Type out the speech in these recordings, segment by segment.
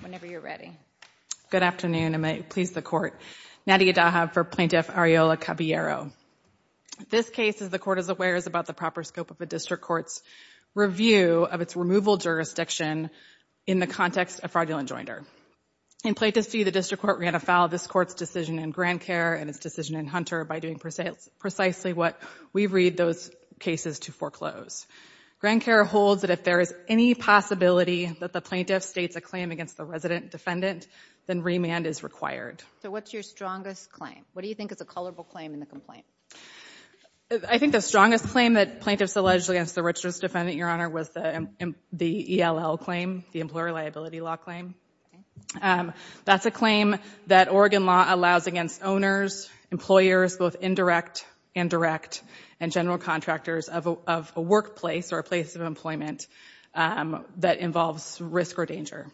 Whenever you're ready. Good afternoon, and may it please the Court. Nadia Dahab for Plaintiff Areola-Caballero. This case, as the Court is aware, is about the proper scope of a district court's review of its removal jurisdiction in the context of fraudulent joinder. In Plaintiff's view, the district court ran afoul of this court's decision in GrandCare and its decision in Hunter by doing precisely what we read those cases to foreclose. GrandCare holds that if there is any possibility that the plaintiff states a claim against the resident defendant, then remand is required. So what's your strongest claim? What do you think is a colorable claim in the complaint? I think the strongest claim that plaintiffs alleged against the Richards defendant, Your Honor, was the ELL claim, the Employer Liability Law claim. That's a claim that Oregon law allows against owners, employers, both indirect and direct, and general contractors of a workplace or a place of employment that involves risk or danger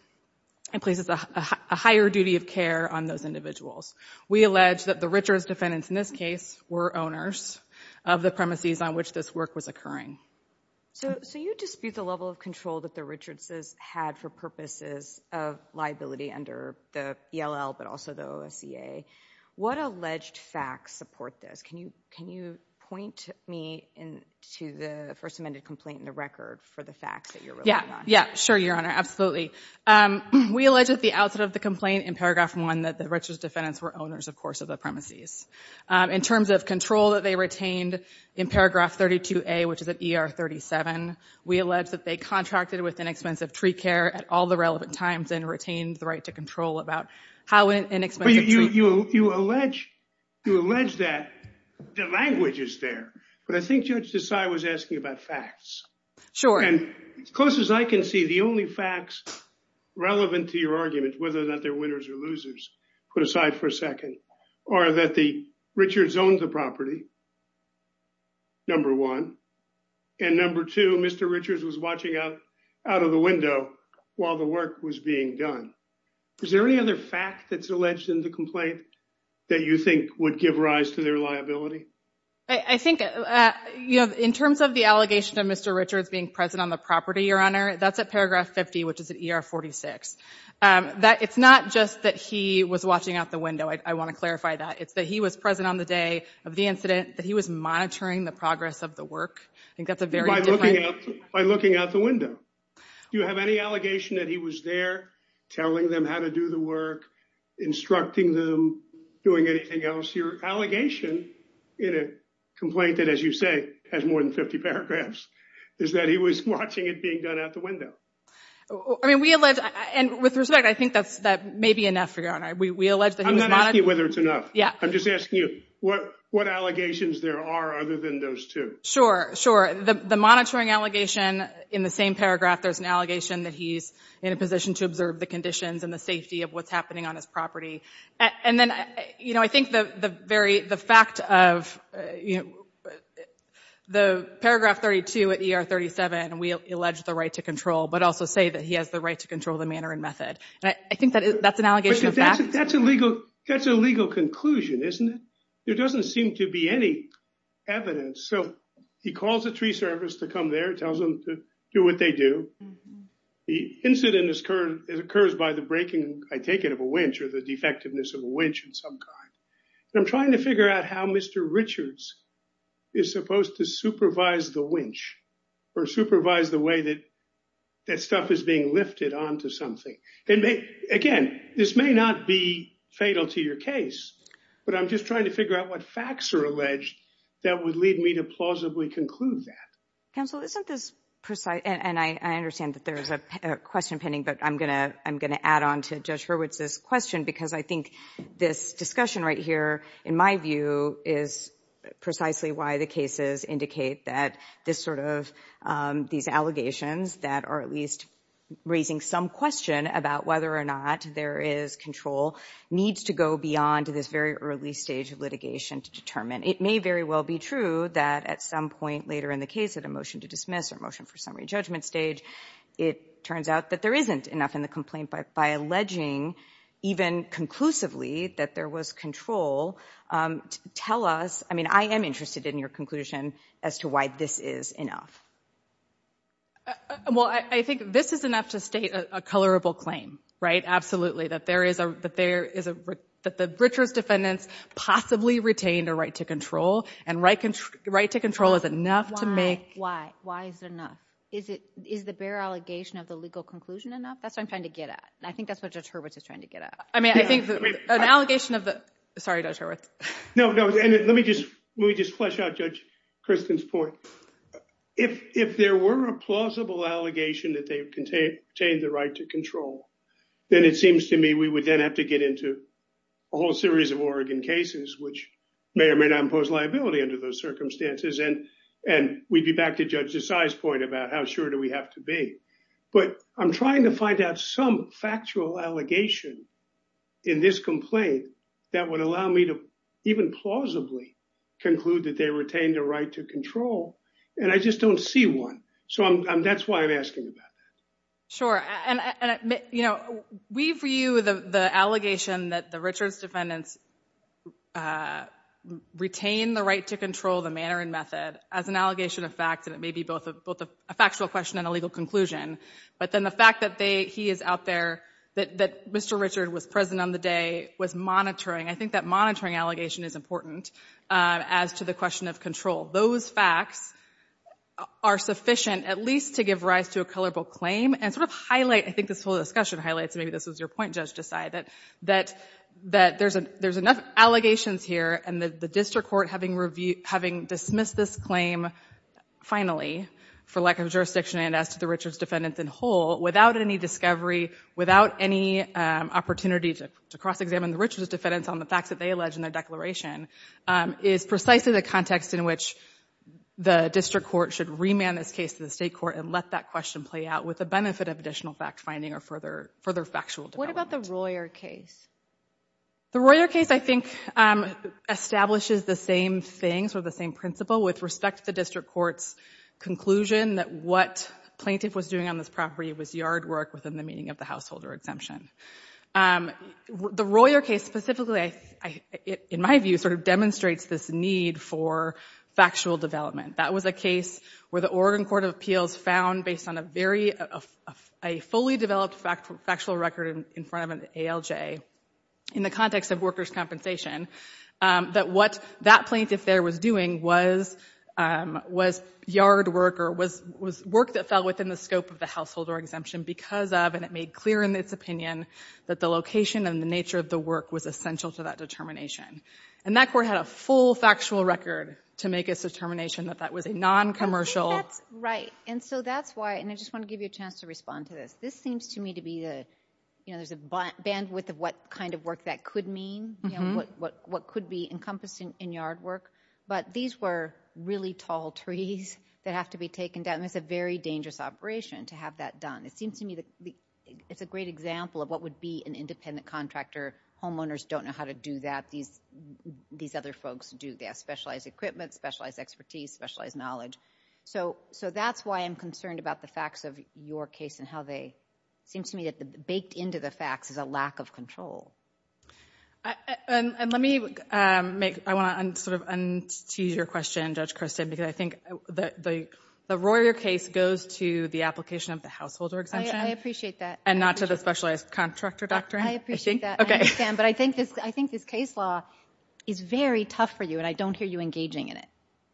and places a higher duty of care on those individuals. We allege that the Richards defendants in this case were owners of the premises on which this work was occurring. So you dispute the level of control that the Richardses had for purposes of liability under the ELL but also the OSCA. What alleged facts support this? Can you point me to the first amended complaint in the record for the facts that you're working on? Yeah, sure, Your Honor, absolutely. We allege at the outset of the complaint in paragraph one that the Richards defendants were owners, of course, of the premises. In terms of control that they retained in paragraph 32A, which is at ER 37, we allege that they contracted with inexpensive tree care at all the relevant times and retained the right to control about how an inexpensive tree... You allege that the language is there, but I think Judge Desai was asking about facts. Sure. And as close as I can see, the only facts relevant to your argument, whether or not they're winners or losers, put aside for a second, are that the Richards owned the property, number one, and number two, Mr. Richards was watching out of the window while the work was being done. Is there any other fact that's alleged in the complaint that you think would give rise to their liability? I think, you know, in terms of the allegation of Mr. Richards being present on the property, Your Honor, that's at paragraph 50, which is at ER 46. It's not just that he was watching out the window. I want to clarify that. It's that he was present on the day of the incident, that he was monitoring the progress of the work. I think that's a very different... By looking out the window. Do you have any allegation that he was there telling them how to do the work, instructing them, doing anything else? Your allegation in a complaint that, as you say, has more than 50 paragraphs, is that he was watching it being done out the window. I mean, we allege... And with respect, I think that may be enough, Your Honor. We allege that he was monitoring... I'm not asking whether it's enough. Yeah. I'm just asking you what allegations there are other than those two. Sure, sure. The monitoring allegation, in the same paragraph, there's an allegation that he's in a position to observe the conditions and the safety of what's happening on his property. And then, you know, I think the very... The fact of, you know, the paragraph 32 at ER 37, we allege the right to control, but also say that he has the right to control the manner and method. I think that's an allegation of fact. But that's a legal conclusion, isn't it? There doesn't seem to be any evidence. So he calls the tree service to come there, tells them to do what they do. The incident occurs by the breaking, I take it, of a winch, or the defectiveness of a winch of some kind. And I'm trying to figure out how Mr. Richards is supposed to supervise the winch, or supervise the way that that stuff is being lifted onto something. Again, this may not be fatal to your case, but I'm just trying to figure out what facts are alleged that would lead me to plausibly conclude that. Counsel, isn't this precise? And I understand that there is a question pending, but I'm going to add on to Judge Hurwitz's question, because I think this discussion right here, in my view, is precisely why the cases indicate that these allegations that are at least raising some question about whether or not there is control needs to go beyond this very early stage of litigation to determine. It may very well be true that at some point later in the case, at a motion to dismiss or motion for summary judgment stage, it turns out that there isn't enough in the complaint by alleging, even conclusively, that there was control. Tell us, I mean, I am interested in your conclusion as to why this is enough. Well, I think this is enough to state a colorable claim, right? Absolutely. That the Richards defendants possibly retained a right to control, and right to control is enough to make... Why? Why? Why is it enough? Is the bare allegation of the legal conclusion enough? That's what I'm trying to get at, and I think that's what Judge Hurwitz is trying to get at. I mean, I think that an allegation of the... Sorry, Judge Hurwitz. No, no, and let me just flesh out Judge Kristin's point. If there were a plausible allegation that they've contained the right to control, then it seems to me we would then have to get into a whole series of Oregon cases, which may or may not impose liability under those circumstances, and we'd be back to Judge Desai's point about how sure do we have to be. But I'm trying to find out some factual allegation in this complaint that would allow me to even plausibly conclude that they retained a right to control, and I just don't see one. So that's why I'm asking about that. Sure. And we view the allegation that the Richards defendants retained the right to control, the manner and method, as an allegation of fact, and it may be both a factual question and a legal conclusion, but then the fact that he is out there, that Mr. Richards was present on the day, was monitoring. I think that monitoring allegation is important as to the question of control. Those facts are sufficient at least to give rise to a colorable claim and sort of highlight, I think this whole discussion highlights, maybe this was your point, Judge Desai, that there's enough allegations here and the district court having dismissed this claim finally for lack of jurisdiction and as to the Richards defendants in whole, without any discovery, without any opportunity to cross-examine the Richards defendants on the facts that they allege in their declaration, is precisely the context in which the district court should remand this case to the state court and let that question play out with the benefit of additional fact-finding or further factual development. What about the Royer case? The Royer case, I think, establishes the same things or the same principle with respect to the district court's conclusion that what plaintiff was doing on this property was yard work within the meaning of the householder exemption. The Royer case specifically, in my view, sort of demonstrates this need for factual development. That was a case where the Oregon Court of Appeals found, based on a very, a fully developed factual record in front of an ALJ, in the context of workers' compensation, that what that plaintiff there was doing was yard work or was work that fell within the scope of the householder exemption because of, and it made clear in its opinion, that the location and the nature of the work was essential to that determination. And that court had a full factual record to make its determination that that was a non-commercial I think that's right. And so that's why, and I just want to give you a chance to respond to this, this seems to me to be the, you know, there's a bandwidth of what kind of work that could mean, what could be encompassing in yard work, but these were really tall trees that have to be taken down. It's a very dangerous operation to have that done. It seems to me that it's a great example of what would be an independent contractor. Homeowners don't know how to do that. These other folks do. They have specialized equipment, specialized expertise, specialized knowledge. So that's why I'm concerned about the facts of your case and how they, it seems to me that baked into the facts is a lack of control. And let me make, I want to sort of tease your question, Judge Christin, because I think the Royer case goes to the application of the householder exemption. I appreciate that. And not to the specialized contractor doctrine. I appreciate that. Okay. But I think this, I think this case law is very tough for you and I don't hear you engaging in it.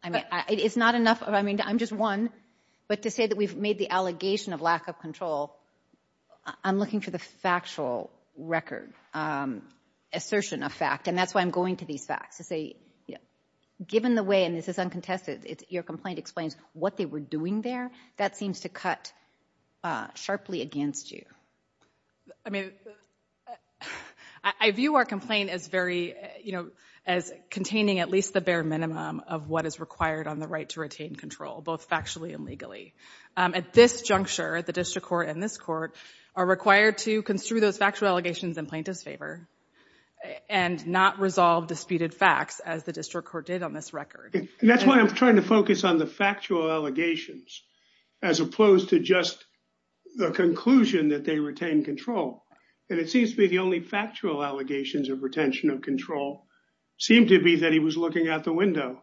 I mean, it's not enough. I mean, I'm just one, but to say that we've made the allegation of lack of control, I'm looking for the factual record, assertion of fact. And that's why I'm going to these facts to say, given the way, and this is uncontested, your complaint explains what they were doing there. That seems to cut sharply against you. I mean, I view our complaint as very, you know, as containing at least the bare minimum of what is required on the right to retain control, both factually and legally. At this juncture, the district court and this court are required to construe those factual allegations in plaintiff's favor and not resolve disputed facts, as the district court did on this record. And that's why I'm trying to focus on the factual allegations as opposed to just the conclusion that they retain control. And it seems to be the only factual allegations of retention of control seemed to be that he was looking out the window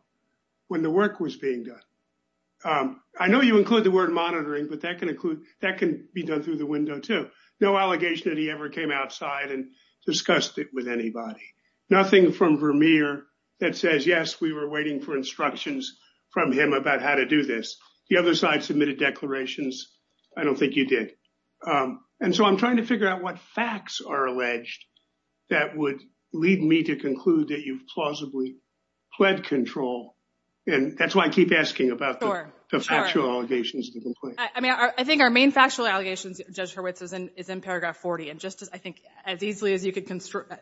when the work was being done. I know you include the word monitoring, but that can include that can be done through the window, too. No allegation that he ever came outside and discussed it with anybody. Nothing from Vermeer that says, yes, we were waiting for instructions from him about how to do this. The other side submitted declarations. I don't think you did. And so I'm trying to figure out what facts are alleged that would lead me to conclude that you've plausibly pled control. And that's why I keep asking about the factual allegations. I mean, I think our main factual allegations, Judge Hurwitz, is in is in paragraph 40. And just as I think as easily as you can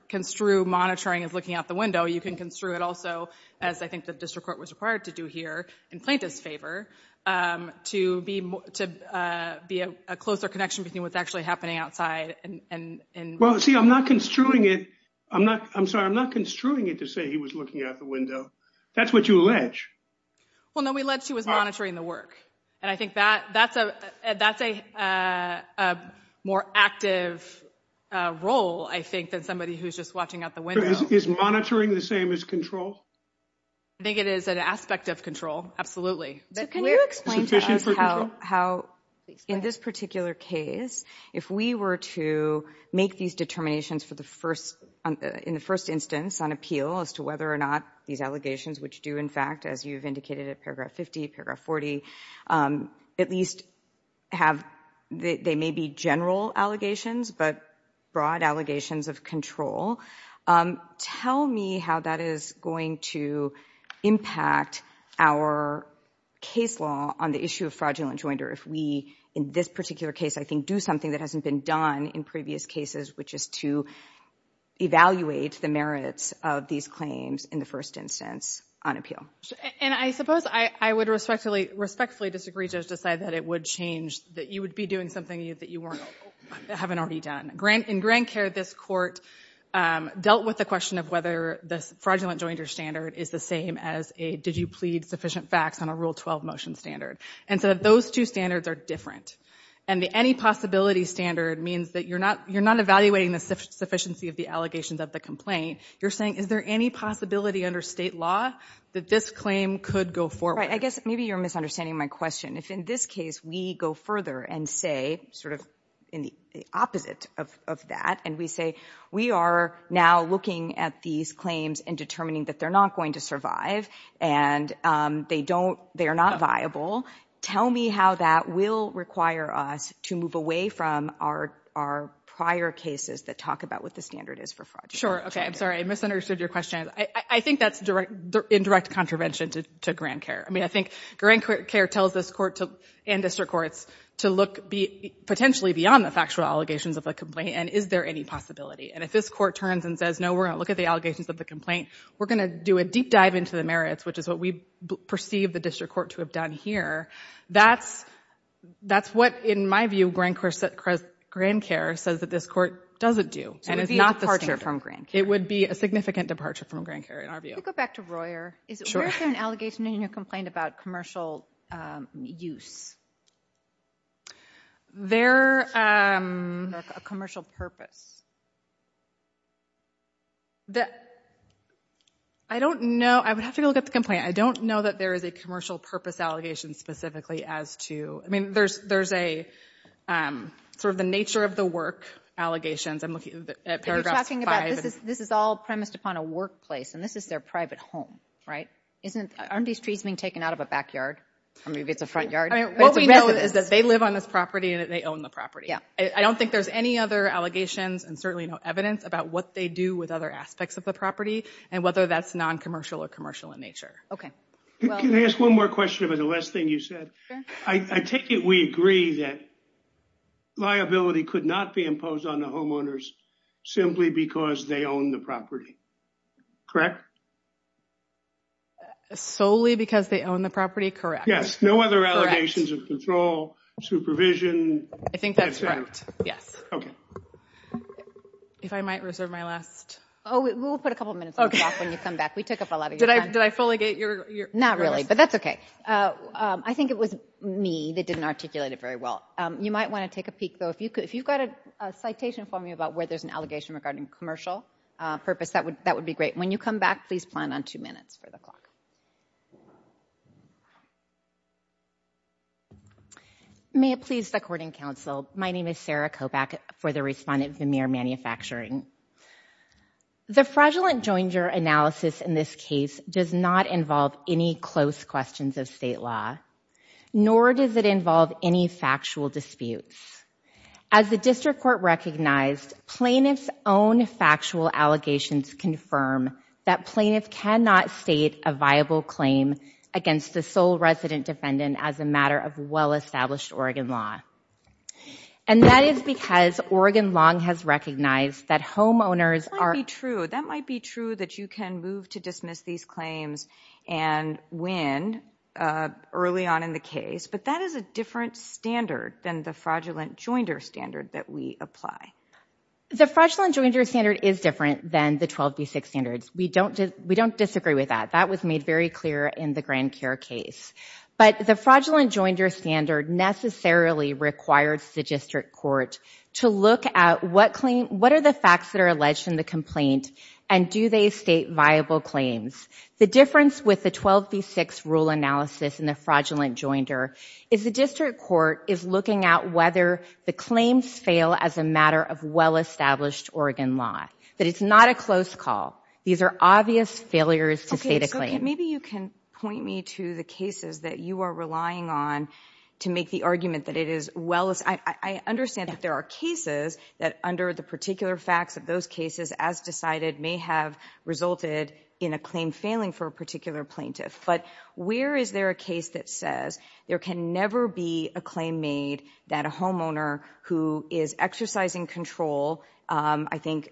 construe monitoring is looking out the window, you can construe it also, as I think the district court was required to do here in plaintiff's favor to be to be a closer connection between what's actually happening outside. And well, see, I'm not construing it. I'm not I'm sorry, I'm not construing it to say he was looking out the window. That's what you allege. Well, no, we allege he was monitoring the work. And I think that that's a that's a more active role, I think, than somebody who's just watching out the window. Is monitoring the same as control? I think it is an aspect of control. Can you explain to us how in this particular case, if we were to make these determinations for the first in the first instance on appeal as to whether or not these allegations, which do, in fact, as you've indicated, at paragraph 50, paragraph 40, at least have they may be general allegations, but broad allegations of control. Tell me how that is going to impact our case law on the issue of fraudulent joinder. If we in this particular case, I think, do something that hasn't been done in previous cases, which is to evaluate the merits of these claims in the first instance on appeal. And I suppose I would respectfully, respectfully disagree, Judge, decide that it would change that you would be doing something that you weren't haven't already done. Grant in grand care, this court dealt with the question of whether this fraudulent joinder standard is the same as a did you plead sufficient facts on a Rule 12 motion standard. And so those two standards are different. And the any possibility standard means that you're not you're not evaluating the sufficiency of the allegations of the complaint. You're saying, is there any possibility under state law that this claim could go forward? I guess maybe you're misunderstanding my question. If in this case we go further and say sort of in the opposite of that and we say we are now looking at these claims and determining that they're not going to survive and they don't they are not viable. Tell me how that will require us to move away from our our prior cases that talk about what the standard is for fraud. Sure. OK, I'm sorry. I misunderstood your question. I think that's direct indirect contravention to grand care. I mean, I think grand care tells this court and district courts to look potentially beyond the factual allegations of a complaint. And is there any possibility? And if this court turns and says, no, we're going to look at the allegations of the complaint, we're going to do a deep dive into the merits, which is what we perceive the district court to have done here. That's that's what, in my view, grand grand care says that this court doesn't do. And it's not the departure from grand. It would be a significant departure from grand care in our view. Go back to Royer. Is there an allegation in your complaint about commercial use? They're a commercial purpose. That. I don't know, I would have to look at the complaint, I don't know that there is a commercial purpose allegation specifically as to I mean, there's there's a sort of the nature of the work allegations I'm looking at. You're talking about this is this is all premised upon a workplace and this is their private home, right? Isn't aren't these trees being taken out of a backyard or maybe it's a front yard? I mean, what we know is that they live on this property and they own the property. Yeah, I don't think there's any other allegations. And certainly no evidence about what they do with other aspects of the property and whether that's non-commercial or commercial in nature. OK, well, can I ask one more question about the last thing you said? I take it we agree that liability could not be imposed on the homeowners simply because they own the property, correct? Solely because they own the property. Correct. Yes. No other allegations of control, supervision. I think that's right. Yes. OK, if I might reserve my last. Oh, we'll put a couple of minutes when you come back. We took up a lot of did I did I fully get your not really. But that's OK. I think it was me that didn't articulate it very well. You might want to take a peek, though, if you could, if you've got a citation for me about where there's an allegation regarding commercial purpose, that would that would be great. When you come back, please plan on two minutes for the clock. May it please the court and counsel, my name is Sarah Kovac for the respondent, Vermeer Manufacturing. The fraudulent Joinger analysis in this case does not involve any close questions of state law, nor does it involve any factual disputes as the district court recognized plaintiff's own factual allegations confirm that plaintiff cannot state a viable claim against the sole resident defendant as a matter of well-established Oregon law. And that is because Oregon long has recognized that homeowners are true. That might be true that you can move to dismiss these claims and win early on in the case. But that is a different standard than the fraudulent Joinder standard that we apply. The fraudulent Joinder standard is different than the 12B6 standards. We don't we don't disagree with that. That was made very clear in the grand care case. But the fraudulent Joinder standard necessarily requires the district court to look at what claim what are the facts that are alleged in the complaint and do they state viable claims? The difference with the 12B6 rule analysis in the fraudulent Joinder is the district court is looking at whether the claims fail as a matter of well-established Oregon law. But it's not a close call. These are obvious failures to state a claim. Maybe you can point me to the cases that you are relying on to make the argument that it is well as I understand that there are cases that under the particular facts of those cases, as decided, may have resulted in a claim failing for a particular plaintiff. But where is there a case that says there can never be a claim made that a homeowner who is exercising control, I think,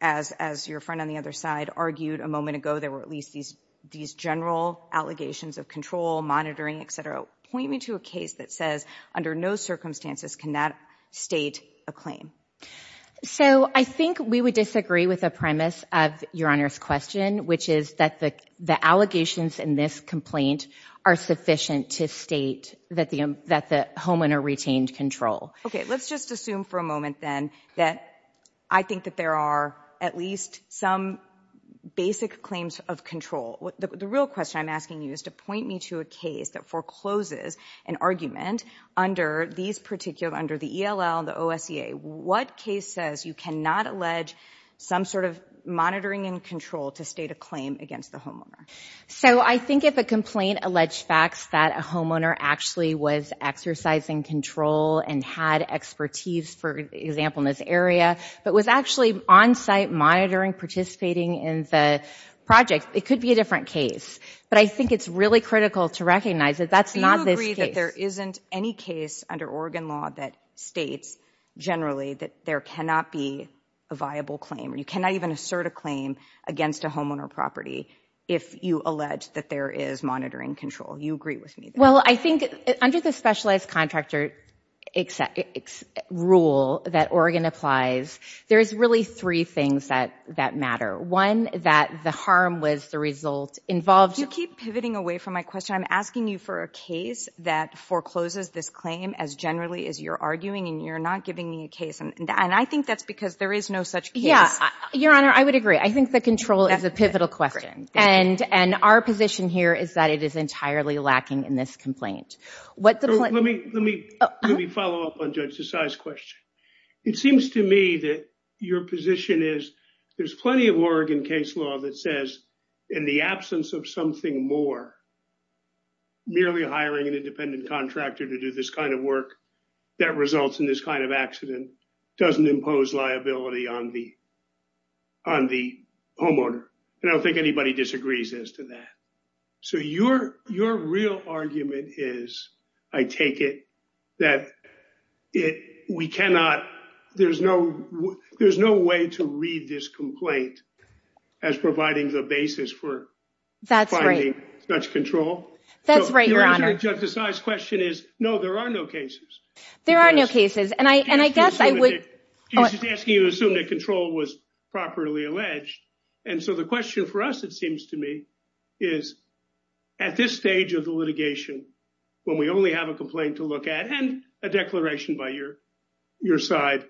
as as your friend on the other side argued a moment ago, there were at least these these general allegations of control, monitoring, etc. Point me to a case that says under no circumstances can that state a claim. So I think we would disagree with the premise of your Honor's question, which is that the the allegations in this complaint are sufficient to state that the that the homeowner retained control. OK, let's just assume for a moment then that I think that there are at least some basic claims of control. The real question I'm asking you is to point me to a case that forecloses an argument under these particular under the E.L.L. the O.S.E.A. What case says you cannot allege some sort of monitoring and control to state a claim against the homeowner? So I think if a complaint alleged facts that a homeowner actually was exercising control and had expertise, for example, in this area, but was actually on site monitoring, participating in the project, it could be a different case. But I think it's really critical to recognize that that's not this case. There isn't any case under Oregon law that states generally that there cannot be a viable claim or you cannot even assert a claim against a homeowner property. If you allege that there is monitoring control, you agree with me? Well, I think under the specialized contractor rule that Oregon applies, there is really three things that that matter. One, that the harm was the result involved. You keep pivoting away from my question. I'm asking you for a case that forecloses this claim as generally as you're arguing and you're not giving me a case. And I think that's because there is no such. Yeah, Your Honor, I would agree. I think the control is a pivotal question and and our position here is that it is entirely lacking in this complaint. What the let me let me let me follow up on Judge Desai's question. It seems to me that your position is there's plenty of Oregon case law that says in the absence of something more. Merely hiring an independent contractor to do this kind of work that results in this kind of accident doesn't impose liability on the. On the homeowner, I don't think anybody disagrees as to that, so you're your real argument is, I take it that it we cannot there's no there's no way to read this complaint as providing the basis for that's right, that's control. That's right, Your Honor. Judge Desai's question is, no, there are no cases. There are no cases. And I and I guess I would ask you to assume that control was properly alleged. And so the question for us, it seems to me, is at this stage of the litigation, when we only have a complaint to look at and a declaration by your your side.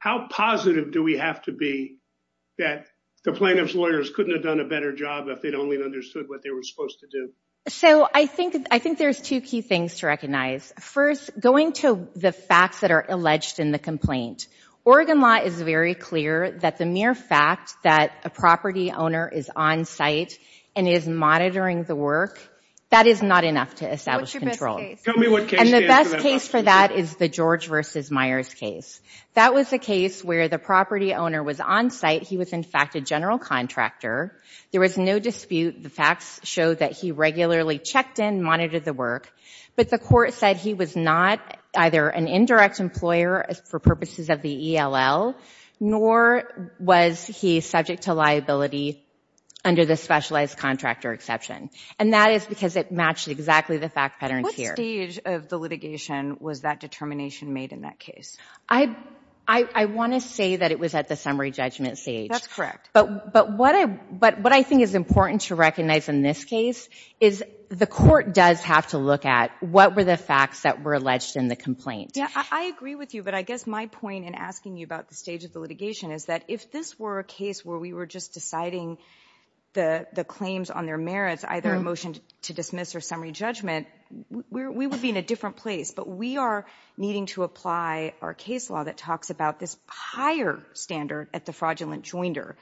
How positive do we have to be that the plaintiff's lawyers couldn't have done a better job if they'd only understood what they were supposed to do? So I think I think there's two key things to recognize. First, going to the facts that are alleged in the complaint, Oregon law is very clear that the mere fact that a property owner is on site and is monitoring the work, that is not enough to establish control. And the best case for that is the George versus Myers case. That was the case where the property owner was on site. He was, in fact, a general contractor. There was no dispute. The facts show that he regularly checked in, monitored the work. But the court said he was not either an indirect employer for purposes of the ELL, nor was he subject to liability under the specialized contractor exception. And that is because it matched exactly the fact patterns here. What stage of the litigation was that determination made in that case? I I want to say that it was at the summary judgment stage. That's correct. But but what I but what I think is important to recognize in this case is the court does have to look at what were the facts that were alleged in the complaint. Yeah, I agree with you. But I guess my point in asking you about the stage of the litigation is that if this were a case where we were just deciding the claims on their merits, either a motion to dismiss or summary judgment, we would be in a different place. But we are needing to apply our case law that talks about this higher standard at the fraudulent joinder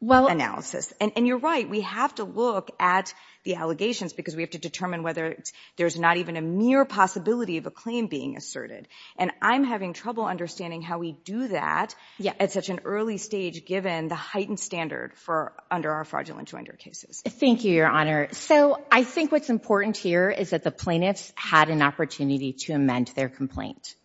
analysis. And you're right, we have to look at the allegations because we have to determine whether there's not even a mere possibility of a claim being asserted. And I'm having trouble understanding how we do that at such an early stage, given the heightened standard for under our fraudulent joinder cases. Thank you, Your Honor. So I think what's important here is that the plaintiffs had an opportunity to amend their complaint.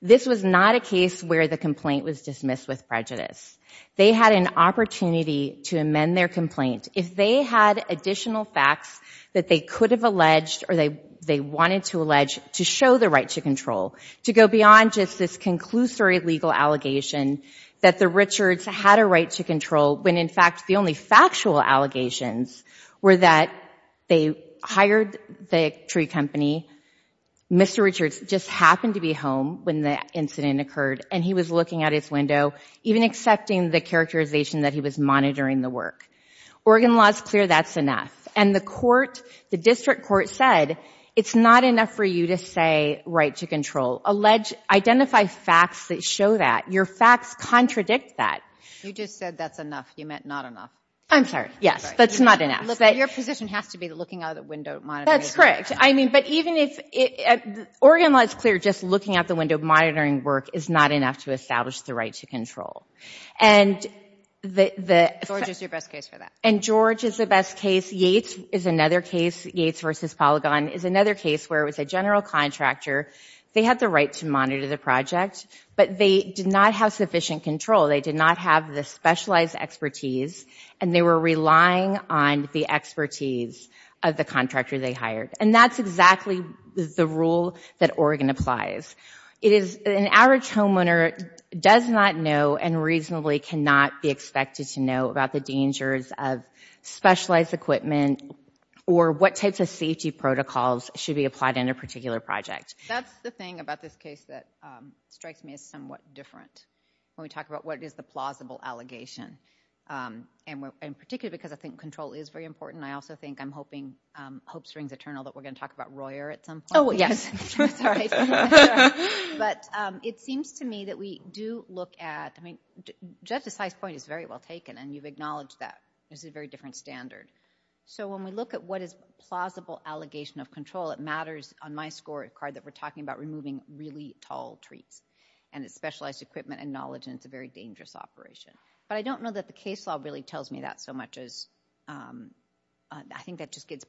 This was not a case where the complaint was dismissed with prejudice. They had an opportunity to amend their complaint. If they had additional facts that they could have alleged or they they wanted to allege to show the right to control, to go beyond just this conclusory legal allegation that the Richards had a right to control, when in fact the only factual allegations were that they hired the tree company. Mr. Richards just happened to be home when the incident occurred and he was looking at his window, even accepting the characterization that he was monitoring the work. Oregon law is clear that's enough. And the court, the district court said it's not enough for you to say right to control. Alleged, identify facts that show that your facts contradict that. You just said that's enough. You meant not enough. I'm sorry. Yes, that's not enough. Your position has to be looking out the window. That's correct. I mean, but even if Oregon law is clear, just looking out the window, monitoring work is not enough to establish the right to control. And the, the, and George is the best case. Yates is another case. Yates versus Polygon is another case where it was a general contractor. They had the right to monitor the project, but they did not have sufficient control. They did not have the specialized expertise and they were relying on the expertise of the contractor they hired. And that's exactly the rule that Oregon applies. It is an average homeowner does not know and reasonably cannot be expected to know about the dangers of specialized equipment or what types of safety protocols should be applied in a particular project. That's the thing about this case that strikes me as somewhat different when we talk about what is the plausible allegation. And in particular, because I think control is very important. I also think I'm hoping, hope springs eternal that we're going to talk about Royer at some point. Oh, yes. Sorry. But it seems to me that we do look at, I mean, Judge Desai's point is very well taken and you've acknowledged that this is a very different standard. So when we look at what is plausible allegation of control, it matters on my score card that we're talking about removing really tall trees and it's specialized equipment and knowledge and it's a very dangerous operation. But I don't know that the case law really tells me that so much as I think that just gets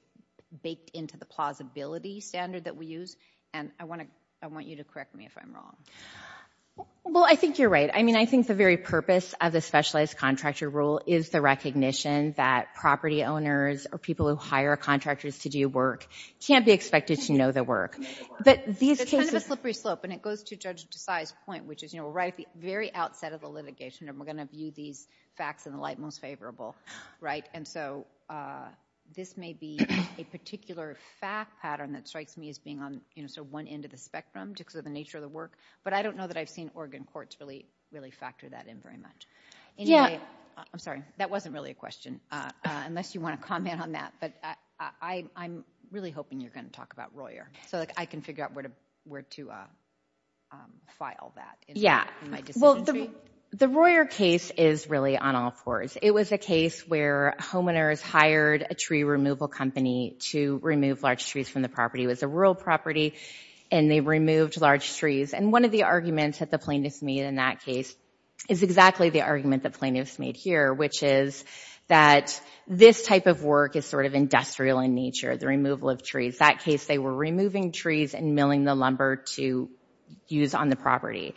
baked into the plausibility standard that we use. And I want to, I want you to correct me if I'm wrong. Well, I think you're right. I mean, I think the very purpose of the specialized contractor rule is the recognition that property owners or people who hire contractors to do work can't be expected to know the work. But these cases... It's kind of a slippery slope and it goes to Judge Desai's point, which is, you know, right at the very outset of the litigation and we're going to view these facts in the light most favorable, right? And so this may be a particular fact pattern that strikes me as being on sort of one end of the spectrum just because of the nature of the work. But I don't know that I've seen Oregon courts really, really factor that in very much. Anyway, I'm sorry, that wasn't really a question, unless you want to comment on that, but I'm really hoping you're going to talk about Royer so that I can figure out where to file that. Yeah, well, the Royer case is really on all fours. It was a case where homeowners hired a tree removal company to remove large trees from the property. It was a rural property and they removed large trees. And one of the arguments that the plaintiffs made in that case is exactly the argument that plaintiffs made here, which is that this type of work is sort of industrial in nature, the removal of trees. That case, they were removing trees and milling the lumber to use on the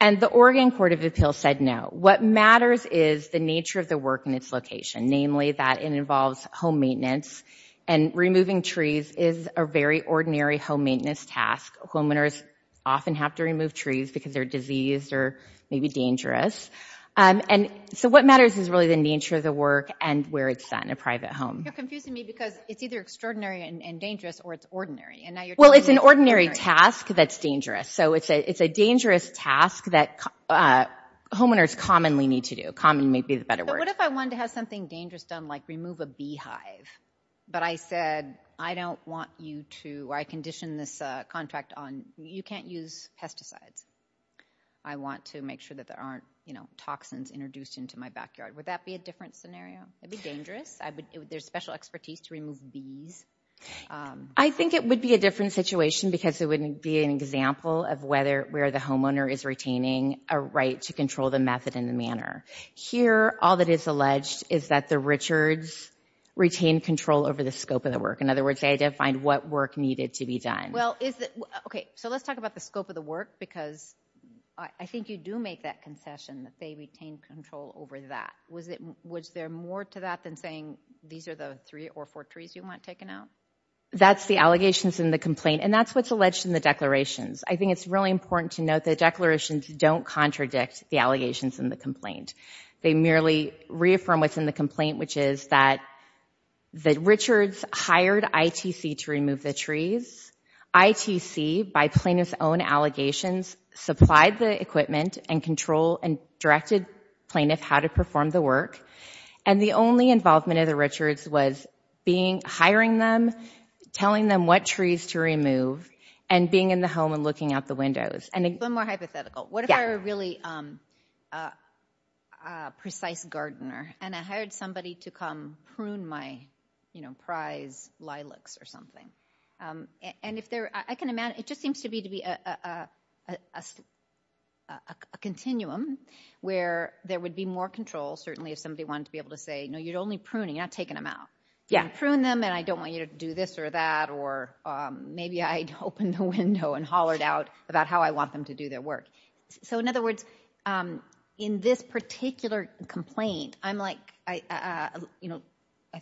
And the Oregon Court of Appeals said, no, what matters is the nature of the work and its location, namely that it involves home maintenance and removing trees is a very ordinary home maintenance task. Homeowners often have to remove trees because they're diseased or maybe dangerous. And so what matters is really the nature of the work and where it's set in a private home. You're confusing me because it's either extraordinary and dangerous or it's ordinary. And now you're Well, it's an ordinary task that's dangerous. So it's a dangerous task that homeowners commonly need to do. Common may be the better word. But what if I wanted to have something dangerous done, like remove a beehive? But I said, I don't want you to I condition this contract on you can't use pesticides. I want to make sure that there aren't toxins introduced into my backyard. Would that be a different scenario? It'd be dangerous. I would there's special expertise to remove bees. I think it would be a different situation because it wouldn't be an example of whether where the homeowner is retaining a right to control the method in the manner here. All that is alleged is that the Richards retained control over the scope of the work. In other words, they defined what work needed to be done. Well, is that OK? So let's talk about the scope of the work, because I think you do make that concession that they retain control over that. Was it was there more to that than saying these are the three or four trees you want taken out? That's the allegations in the complaint, and that's what's alleged in the declarations. I think it's really important to note that declarations don't contradict the allegations in the complaint. They merely reaffirm what's in the complaint, which is that the Richards hired ITC to remove the trees. ITC, by plaintiff's own allegations, supplied the equipment and control and directed plaintiff how to perform the work. And the only involvement of the Richards was being hiring them, telling them what trees to remove and being in the home and looking out the windows. And one more hypothetical. What if I were a really precise gardener and I hired somebody to come prune my prize lilacs or something? And if there I can imagine it just seems to be to be a continuum where there would be more control, certainly if somebody wanted to be able to say, no, you're only pruning, you're not taking them out. You prune them and I don't want you to do this or that, or maybe I'd open the window and hollered out about how I want them to do their work. So in other words, in this particular complaint, I'm like, I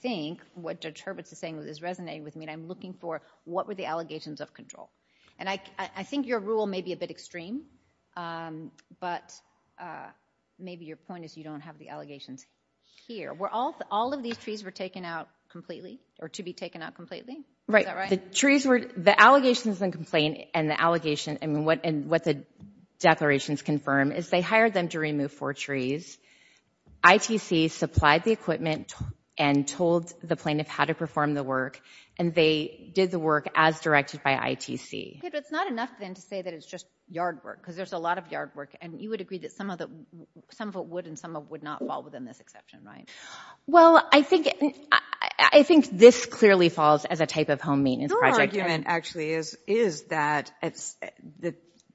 think what Judge Hurwitz is saying is resonating with me and I'm looking for what were the allegations of control? And I think your rule may be a bit extreme, but maybe your point is you don't have the allegations here. All of these trees were taken out completely or to be taken out completely? Right. The trees were, the allegations in the complaint and the allegation, I mean, and what the declarations confirm is they hired them to remove four trees. ITC supplied the equipment and told the plaintiff how to perform the work and they did the work as directed by ITC. It's not enough then to say that it's just yard work because there's a lot of yard work and you would agree that some of it would and some of it would not fall within this exception, right? Well, I think this clearly falls as a type of home maintenance project. Actually is, is that it's the,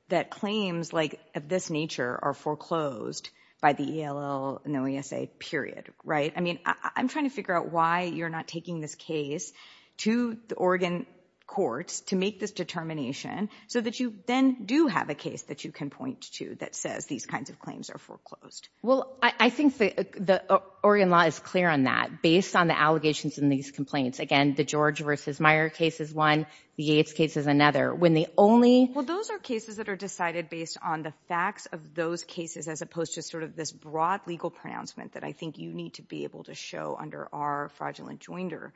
that claims like of this nature are foreclosed by the ELL and OESA period, right? I mean, I'm trying to figure out why you're not taking this case to the Oregon courts to make this determination so that you then do have a case that you can point to that says these kinds of claims are foreclosed. Well, I think the Oregon law is clear on that based on the allegations in these Again, the George versus Meyer case is one, the Yates case is another. When the only... Well, those are cases that are decided based on the facts of those cases as opposed to sort of this broad legal pronouncement that I think you need to be able to show under our fraudulent joinder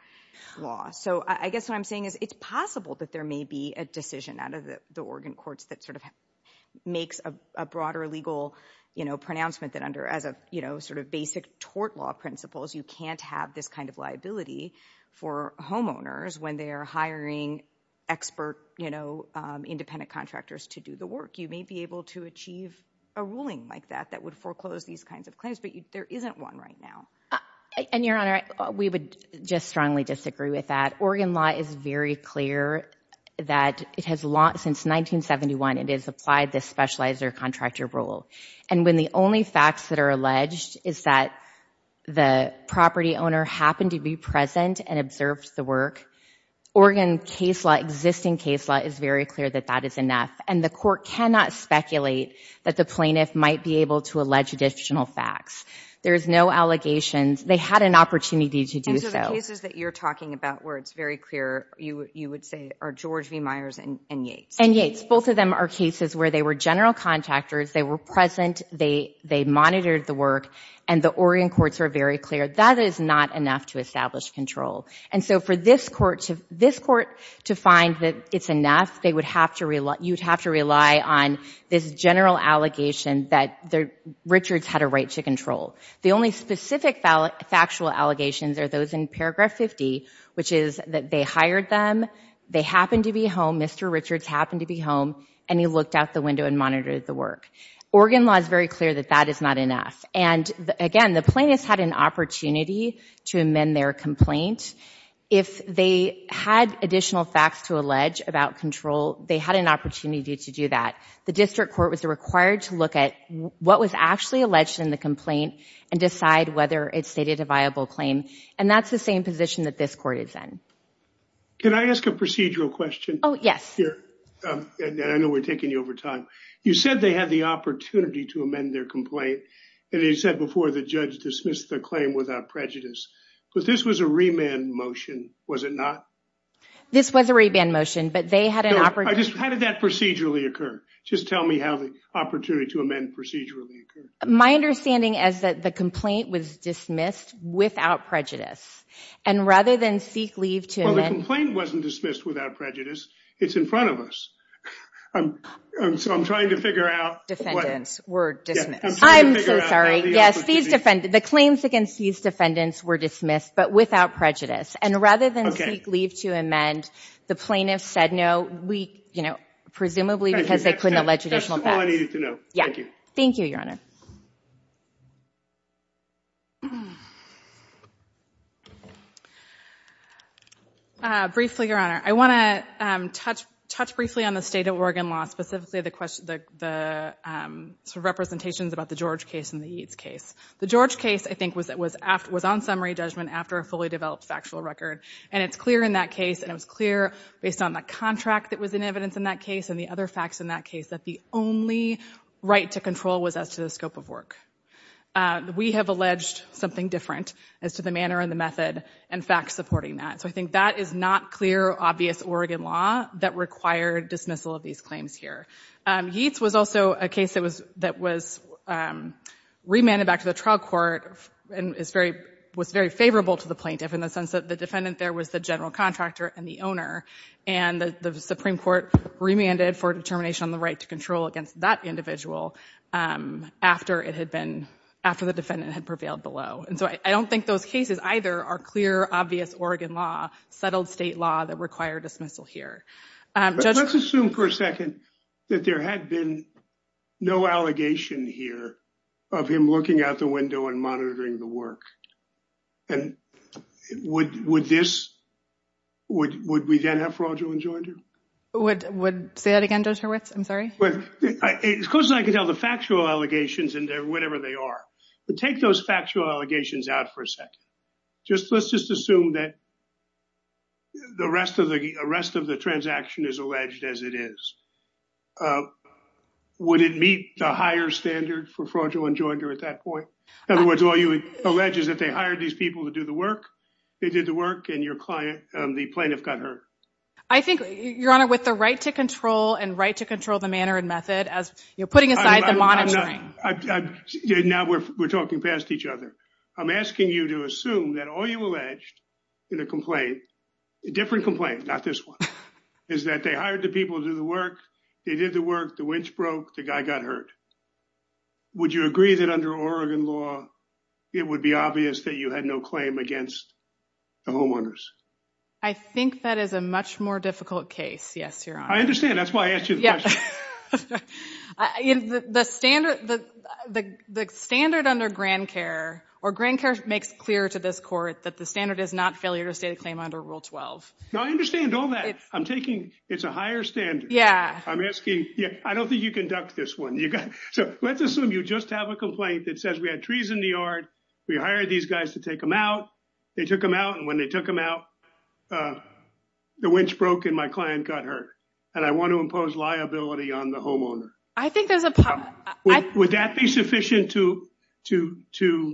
law. So I guess what I'm saying is it's possible that there may be a decision out of the Oregon courts that sort of makes a broader legal, you know, pronouncement that under as a, you know, sort of basic tort law principles, you can't have this kind of liability for homeowners when they are hiring expert, you know, independent contractors to do the work. You may be able to achieve a ruling like that, that would foreclose these kinds of claims, but there isn't one right now. And Your Honor, we would just strongly disagree with that. Oregon law is very clear that it has, since 1971, it has applied this specializer contractor rule. And when the only facts that are alleged is that the property owner happened to be present and observed the work, Oregon case law, existing case law is very clear that that is enough. And the court cannot speculate that the plaintiff might be able to allege additional facts. There is no allegations. They had an opportunity to do so. And so the cases that you're talking about where it's very clear, you would say, are George v. Myers and Yates. And Yates. Both of them are cases where they were general contractors. They were present. They monitored the work. And the Oregon courts are very clear. That is not enough to establish control. And so for this court to find that it's enough, you'd have to rely on this general allegation that Richards had a right to control. The only specific factual allegations are those in paragraph 50, which is that they hired them. They happened to be home. Mr. Richards happened to be home. And he looked out the window and monitored the work. Oregon law is very clear that that is not enough. And again, the plaintiffs had an opportunity to amend their complaint. If they had additional facts to allege about control, they had an opportunity to do that. The district court was required to look at what was actually alleged in the complaint and decide whether it stated a viable claim. And that's the same position that this court is in. Can I ask a procedural question? Oh, yes. I know we're taking you over time. You said they had the opportunity to amend their complaint. And you said before the judge dismissed the claim without prejudice. But this was a remand motion, was it not? This was a remand motion, but they had an opportunity. How did that procedurally occur? Just tell me how the opportunity to amend procedurally occurred. My understanding is that the complaint was dismissed without prejudice. And rather than seek leave to amend... Well, the complaint wasn't dismissed without prejudice. It's in front of us. So I'm trying to figure out... Defendants were dismissed. I'm so sorry. Yes, the claims against these defendants were dismissed, but without prejudice. And rather than seek leave to amend, the plaintiffs said no, presumably because they couldn't allege additional facts. That's all I needed to know. Yeah. Thank you, Your Honor. Briefly, Your Honor, I want to touch briefly on the state of Oregon law, specifically the representations about the George case and the Eads case. The George case, I think, was on summary judgment after a fully developed factual record. And it's clear in that case, and it was clear based on the contract that was in evidence in that case and the other facts in that case, that the only right to control was as to the scope of work. We have alleged something different as to the manner and the method and facts supporting that. So I think that is not clear, obvious Oregon law that required dismissal of these claims here. Eads was also a case that was remanded back to the trial court and was very favorable to the plaintiff in the sense that the defendant there was the general contractor and the owner. And the Supreme Court remanded for determination on the right to control against that individual after the defendant had prevailed below. And so I don't think those cases either are clear, obvious Oregon law, settled state law that require dismissal here. But let's assume for a second that there had been no allegation here of him looking out the window and monitoring the work. And would this, would we then have fraudulent judgment? Would, say that again, Judge Hurwitz? I'm sorry. Well, as close as I can tell, the factual allegations, whatever they are, take those factual allegations out for a second. Let's just assume that the rest of the transaction is alleged as it is. Would it meet the higher standard for fraudulent judgment at that point? In other words, all you allege is that they hired these people to do the work. They did the work and your client, the plaintiff got hurt. I think, Your Honor, with the right to control and right to control the manner and method as you're putting aside the monitoring. I, now we're talking past each other. I'm asking you to assume that all you alleged in a complaint, a different complaint, not this one, is that they hired the people to do the work. They did the work. The winch broke. The guy got hurt. Would you agree that under Oregon law, it would be obvious that you had no claim against the homeowners? I think that is a much more difficult case. Yes, Your Honor. I understand. That's why I asked you the question. The standard under grand care or grand care makes clear to this court that the standard is not failure to state a claim under Rule 12. No, I understand all that. I'm taking, it's a higher standard. I'm asking, I don't think you conduct this one. So let's assume you just have a complaint that says we had trees in the yard. We hired these guys to take them out. They took them out. And when they took them out, the winch broke and my client got hurt. And I want to impose liability on the homeowner. I think there's a problem. Would that be sufficient to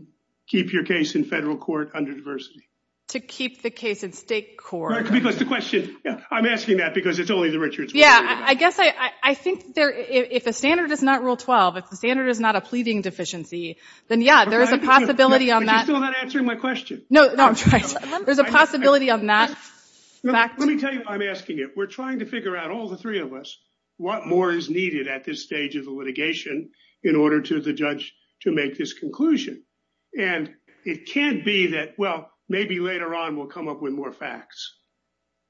keep your case in federal court under diversity? To keep the case in state court. Because the question, I'm asking that because it's only the Richards. Yeah, I guess I think if the standard is not Rule 12, if the standard is not a pleading deficiency, then yeah, there is a possibility on that. But you're still not answering my question. No, I'm trying. There's a possibility on that. Let me tell you why I'm asking it. We're trying to figure out, all the three of us, what more is needed at this stage of the litigation in order to the judge to make this conclusion. And it can't be that, well, maybe later on we'll come up with more facts.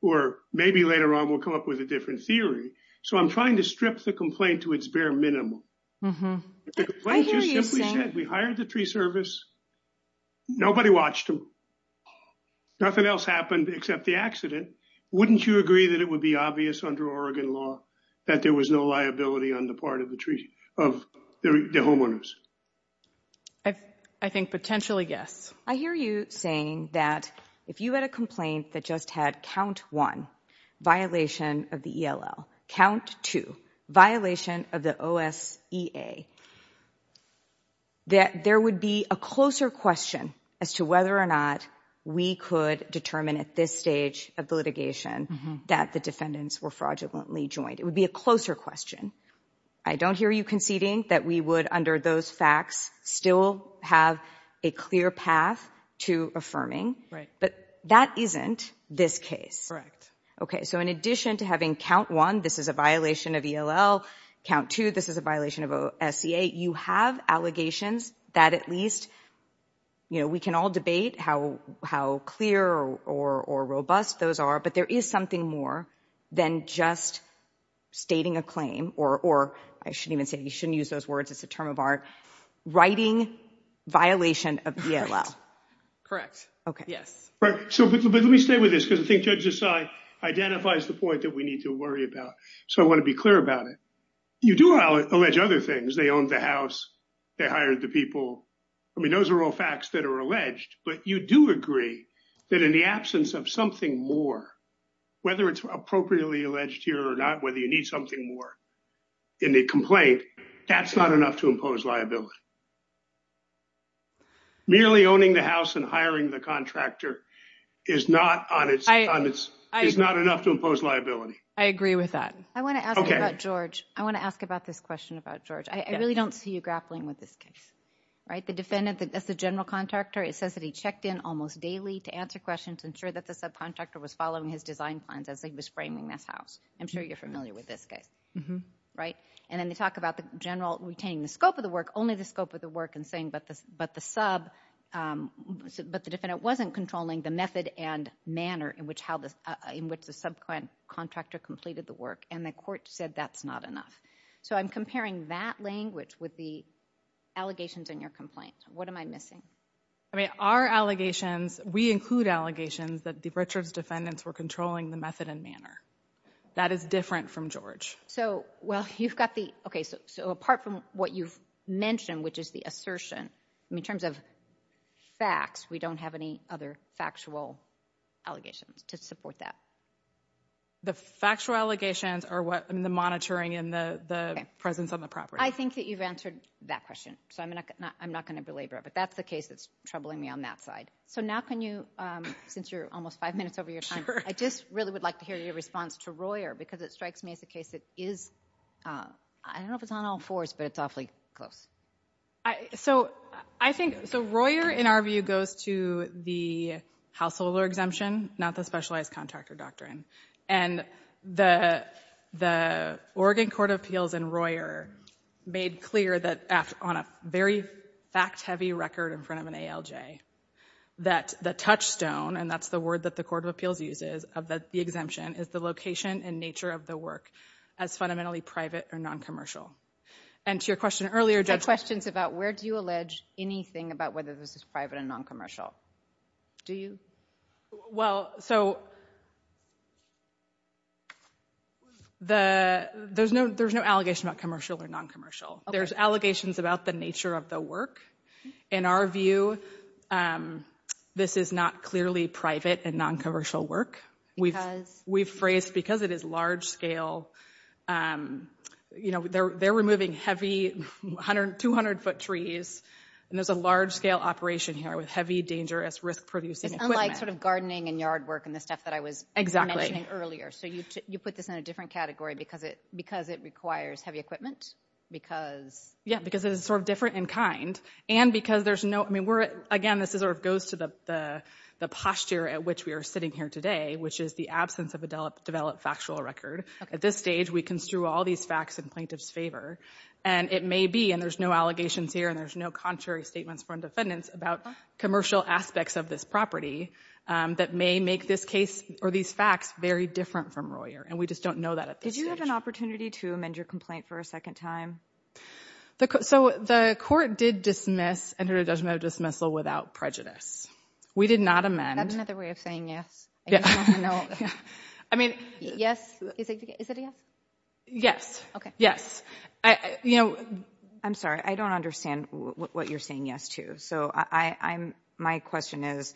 Or maybe later on we'll come up with a different theory. So I'm trying to strip the complaint to its bare minimum. The complaint just simply said we hired the tree service. Nobody watched them. Nothing else happened except the accident. Wouldn't you agree that it would be obvious under Oregon law that there was no liability on the part of the tree, of the homeowners? I think potentially, yes. I hear you saying that if you had a complaint that just had count one, violation of the ELL, count two, violation of the OSEA, that there would be a closer question as to whether or not we could determine at this stage of the litigation that the defendants were fraudulently joined. It would be a closer question. I don't hear you conceding that we would, under those facts, still have a clear path to affirming. But that isn't this case. So in addition to having count one, this is a violation of ELL, count two, this is a violation of OSEA, you have allegations that at least, you know, we can all debate how clear or robust those are, but there is something more than just stating a claim, or I shouldn't even say, you shouldn't use those words, it's a term of art, writing violation of ELL. Correct. Okay. Yes. Right. So let me stay with this because I think Judge Desai identifies the point that we need to worry about. So I want to be clear about it. You do allege other things, they owned the house, they hired the people. I mean, those are all facts that are alleged, but you do agree that in the absence of something more, whether it's appropriately alleged here or not, whether you need something more in the complaint, that's not enough to impose liability. Merely owning the house and hiring the contractor is not enough to impose liability. I agree with that. I want to ask about George. I want to ask about this question about George. I really don't see you grappling with this case, right? The defendant, that's the general contractor. It says that he checked in almost daily to answer questions, ensure that the subcontractor was following his design plans as he was framing this house. I'm sure you're familiar with this case, right? And then they talk about the general retaining the scope of the work, only the scope of the work and saying, but the sub, but the defendant wasn't controlling the method and manner in which the subcontractor completed the work and the court said that's not enough. So I'm comparing that language with the allegations in your complaint. What am I missing? I mean, our allegations, we include allegations that the Richards defendants were controlling the method and manner. That is different from George. So, well, you've got the, okay, so apart from what you've mentioned, which is the assertion, in terms of facts, we don't have any other factual allegations to support that. The factual allegations are what, I mean, the monitoring and the presence on the property. I think that you've answered that question. So I'm not going to belabor it, but that's the case that's troubling me on that side. So now can you, since you're almost five minutes over your time, I just really would like to hear your response to Royer because it strikes me as a case that is, I don't know if it's on all fours, but it's awfully close. I, so I think, so Royer, in our view, goes to the householder exemption, not the specialized contractor doctrine. And the Oregon Court of Appeals and Royer made clear that on a very fact-heavy record in front of an ALJ, that the touchstone, and that's the word that the Court of Appeals uses of the exemption, is the location and nature of the work as fundamentally private or non-commercial. And to your question earlier, Judge- Questions about where do you allege anything about whether this is private and non-commercial? Do you? Well, so the, there's no, there's no allegation about commercial or non-commercial. There's allegations about the nature of the work. In our view, this is not clearly private and non-commercial work. Because? We've phrased, because it is large-scale, you know, they're removing heavy 200-foot trees, and there's a large-scale operation here with heavy, dangerous, risk-producing equipment. It's unlike sort of gardening and yard work and the stuff that I was- Mentioning earlier. So you put this in a different category because it requires heavy equipment? Because? Yeah, because it is sort of different in kind. And because there's no, I mean, we're, again, this is sort of goes to the posture at which we are sitting here today, which is the absence of a developed factual record. At this stage, we construe all these facts in plaintiff's favor. And it may be, and there's no allegations here, and there's no contrary statements from defendants about commercial aspects of this property that may make this case or these facts very different from Royer. And we just don't know that at this stage. Did you have an opportunity to amend your complaint for a second time? So the court did dismiss, entered a judgment of dismissal without prejudice. We did not amend- Another way of saying yes. I mean- Yes. Is it a yes? Yes. Okay. Yes. I, you know- I'm sorry, I don't understand what you're saying yes to. So I'm, my question is,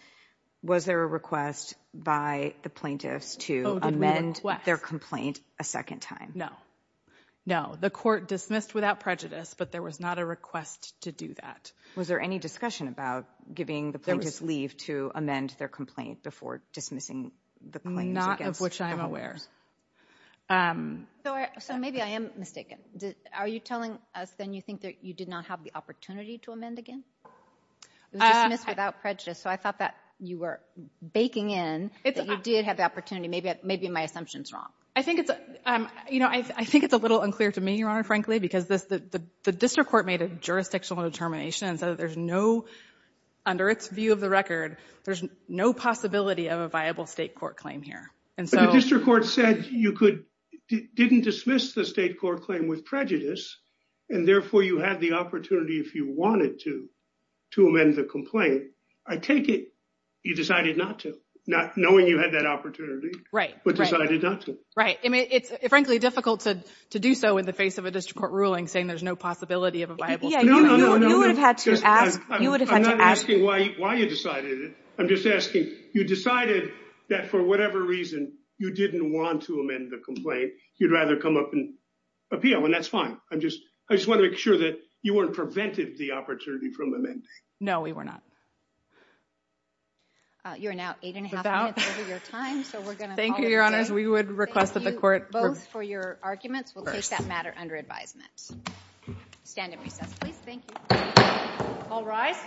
was there a request by the plaintiffs to amend their complaint a second time? No, no. The court dismissed without prejudice, but there was not a request to do that. Was there any discussion about giving the plaintiffs leave to amend their complaint before dismissing the claims against- Not of which I'm aware. So maybe I am mistaken. Are you telling us then you think that you did not have the opportunity to amend again? It was dismissed without prejudice. So I thought that you were baking in that you did have the opportunity. Maybe my assumption's wrong. I think it's, you know, I think it's a little unclear to me, Your Honor, frankly, because the district court made a jurisdictional determination and said that there's no, under its view of the record, there's no possibility of a viable state court claim here. And so- The district court said you could, didn't dismiss the state court claim with prejudice, and therefore you had the opportunity if you wanted to, to amend the complaint. I take it you decided not to, not knowing you had that opportunity. Right. But decided not to. Right. I mean, it's frankly difficult to do so in the face of a district court ruling saying there's no possibility of a viable- Yeah, you would have had to ask- I'm not asking why you decided it. I'm just asking, you decided that for whatever reason you didn't want to amend the complaint. You'd rather come up and appeal, and that's fine. I'm just, I just want to make sure that you weren't prevented the opportunity from amending. No, we were not. You're now eight and a half minutes over your time. Thank you, your honors. We would request that the court- Both for your arguments. We'll take that matter under advisement. Stand in recess, please. Thank you. All rise.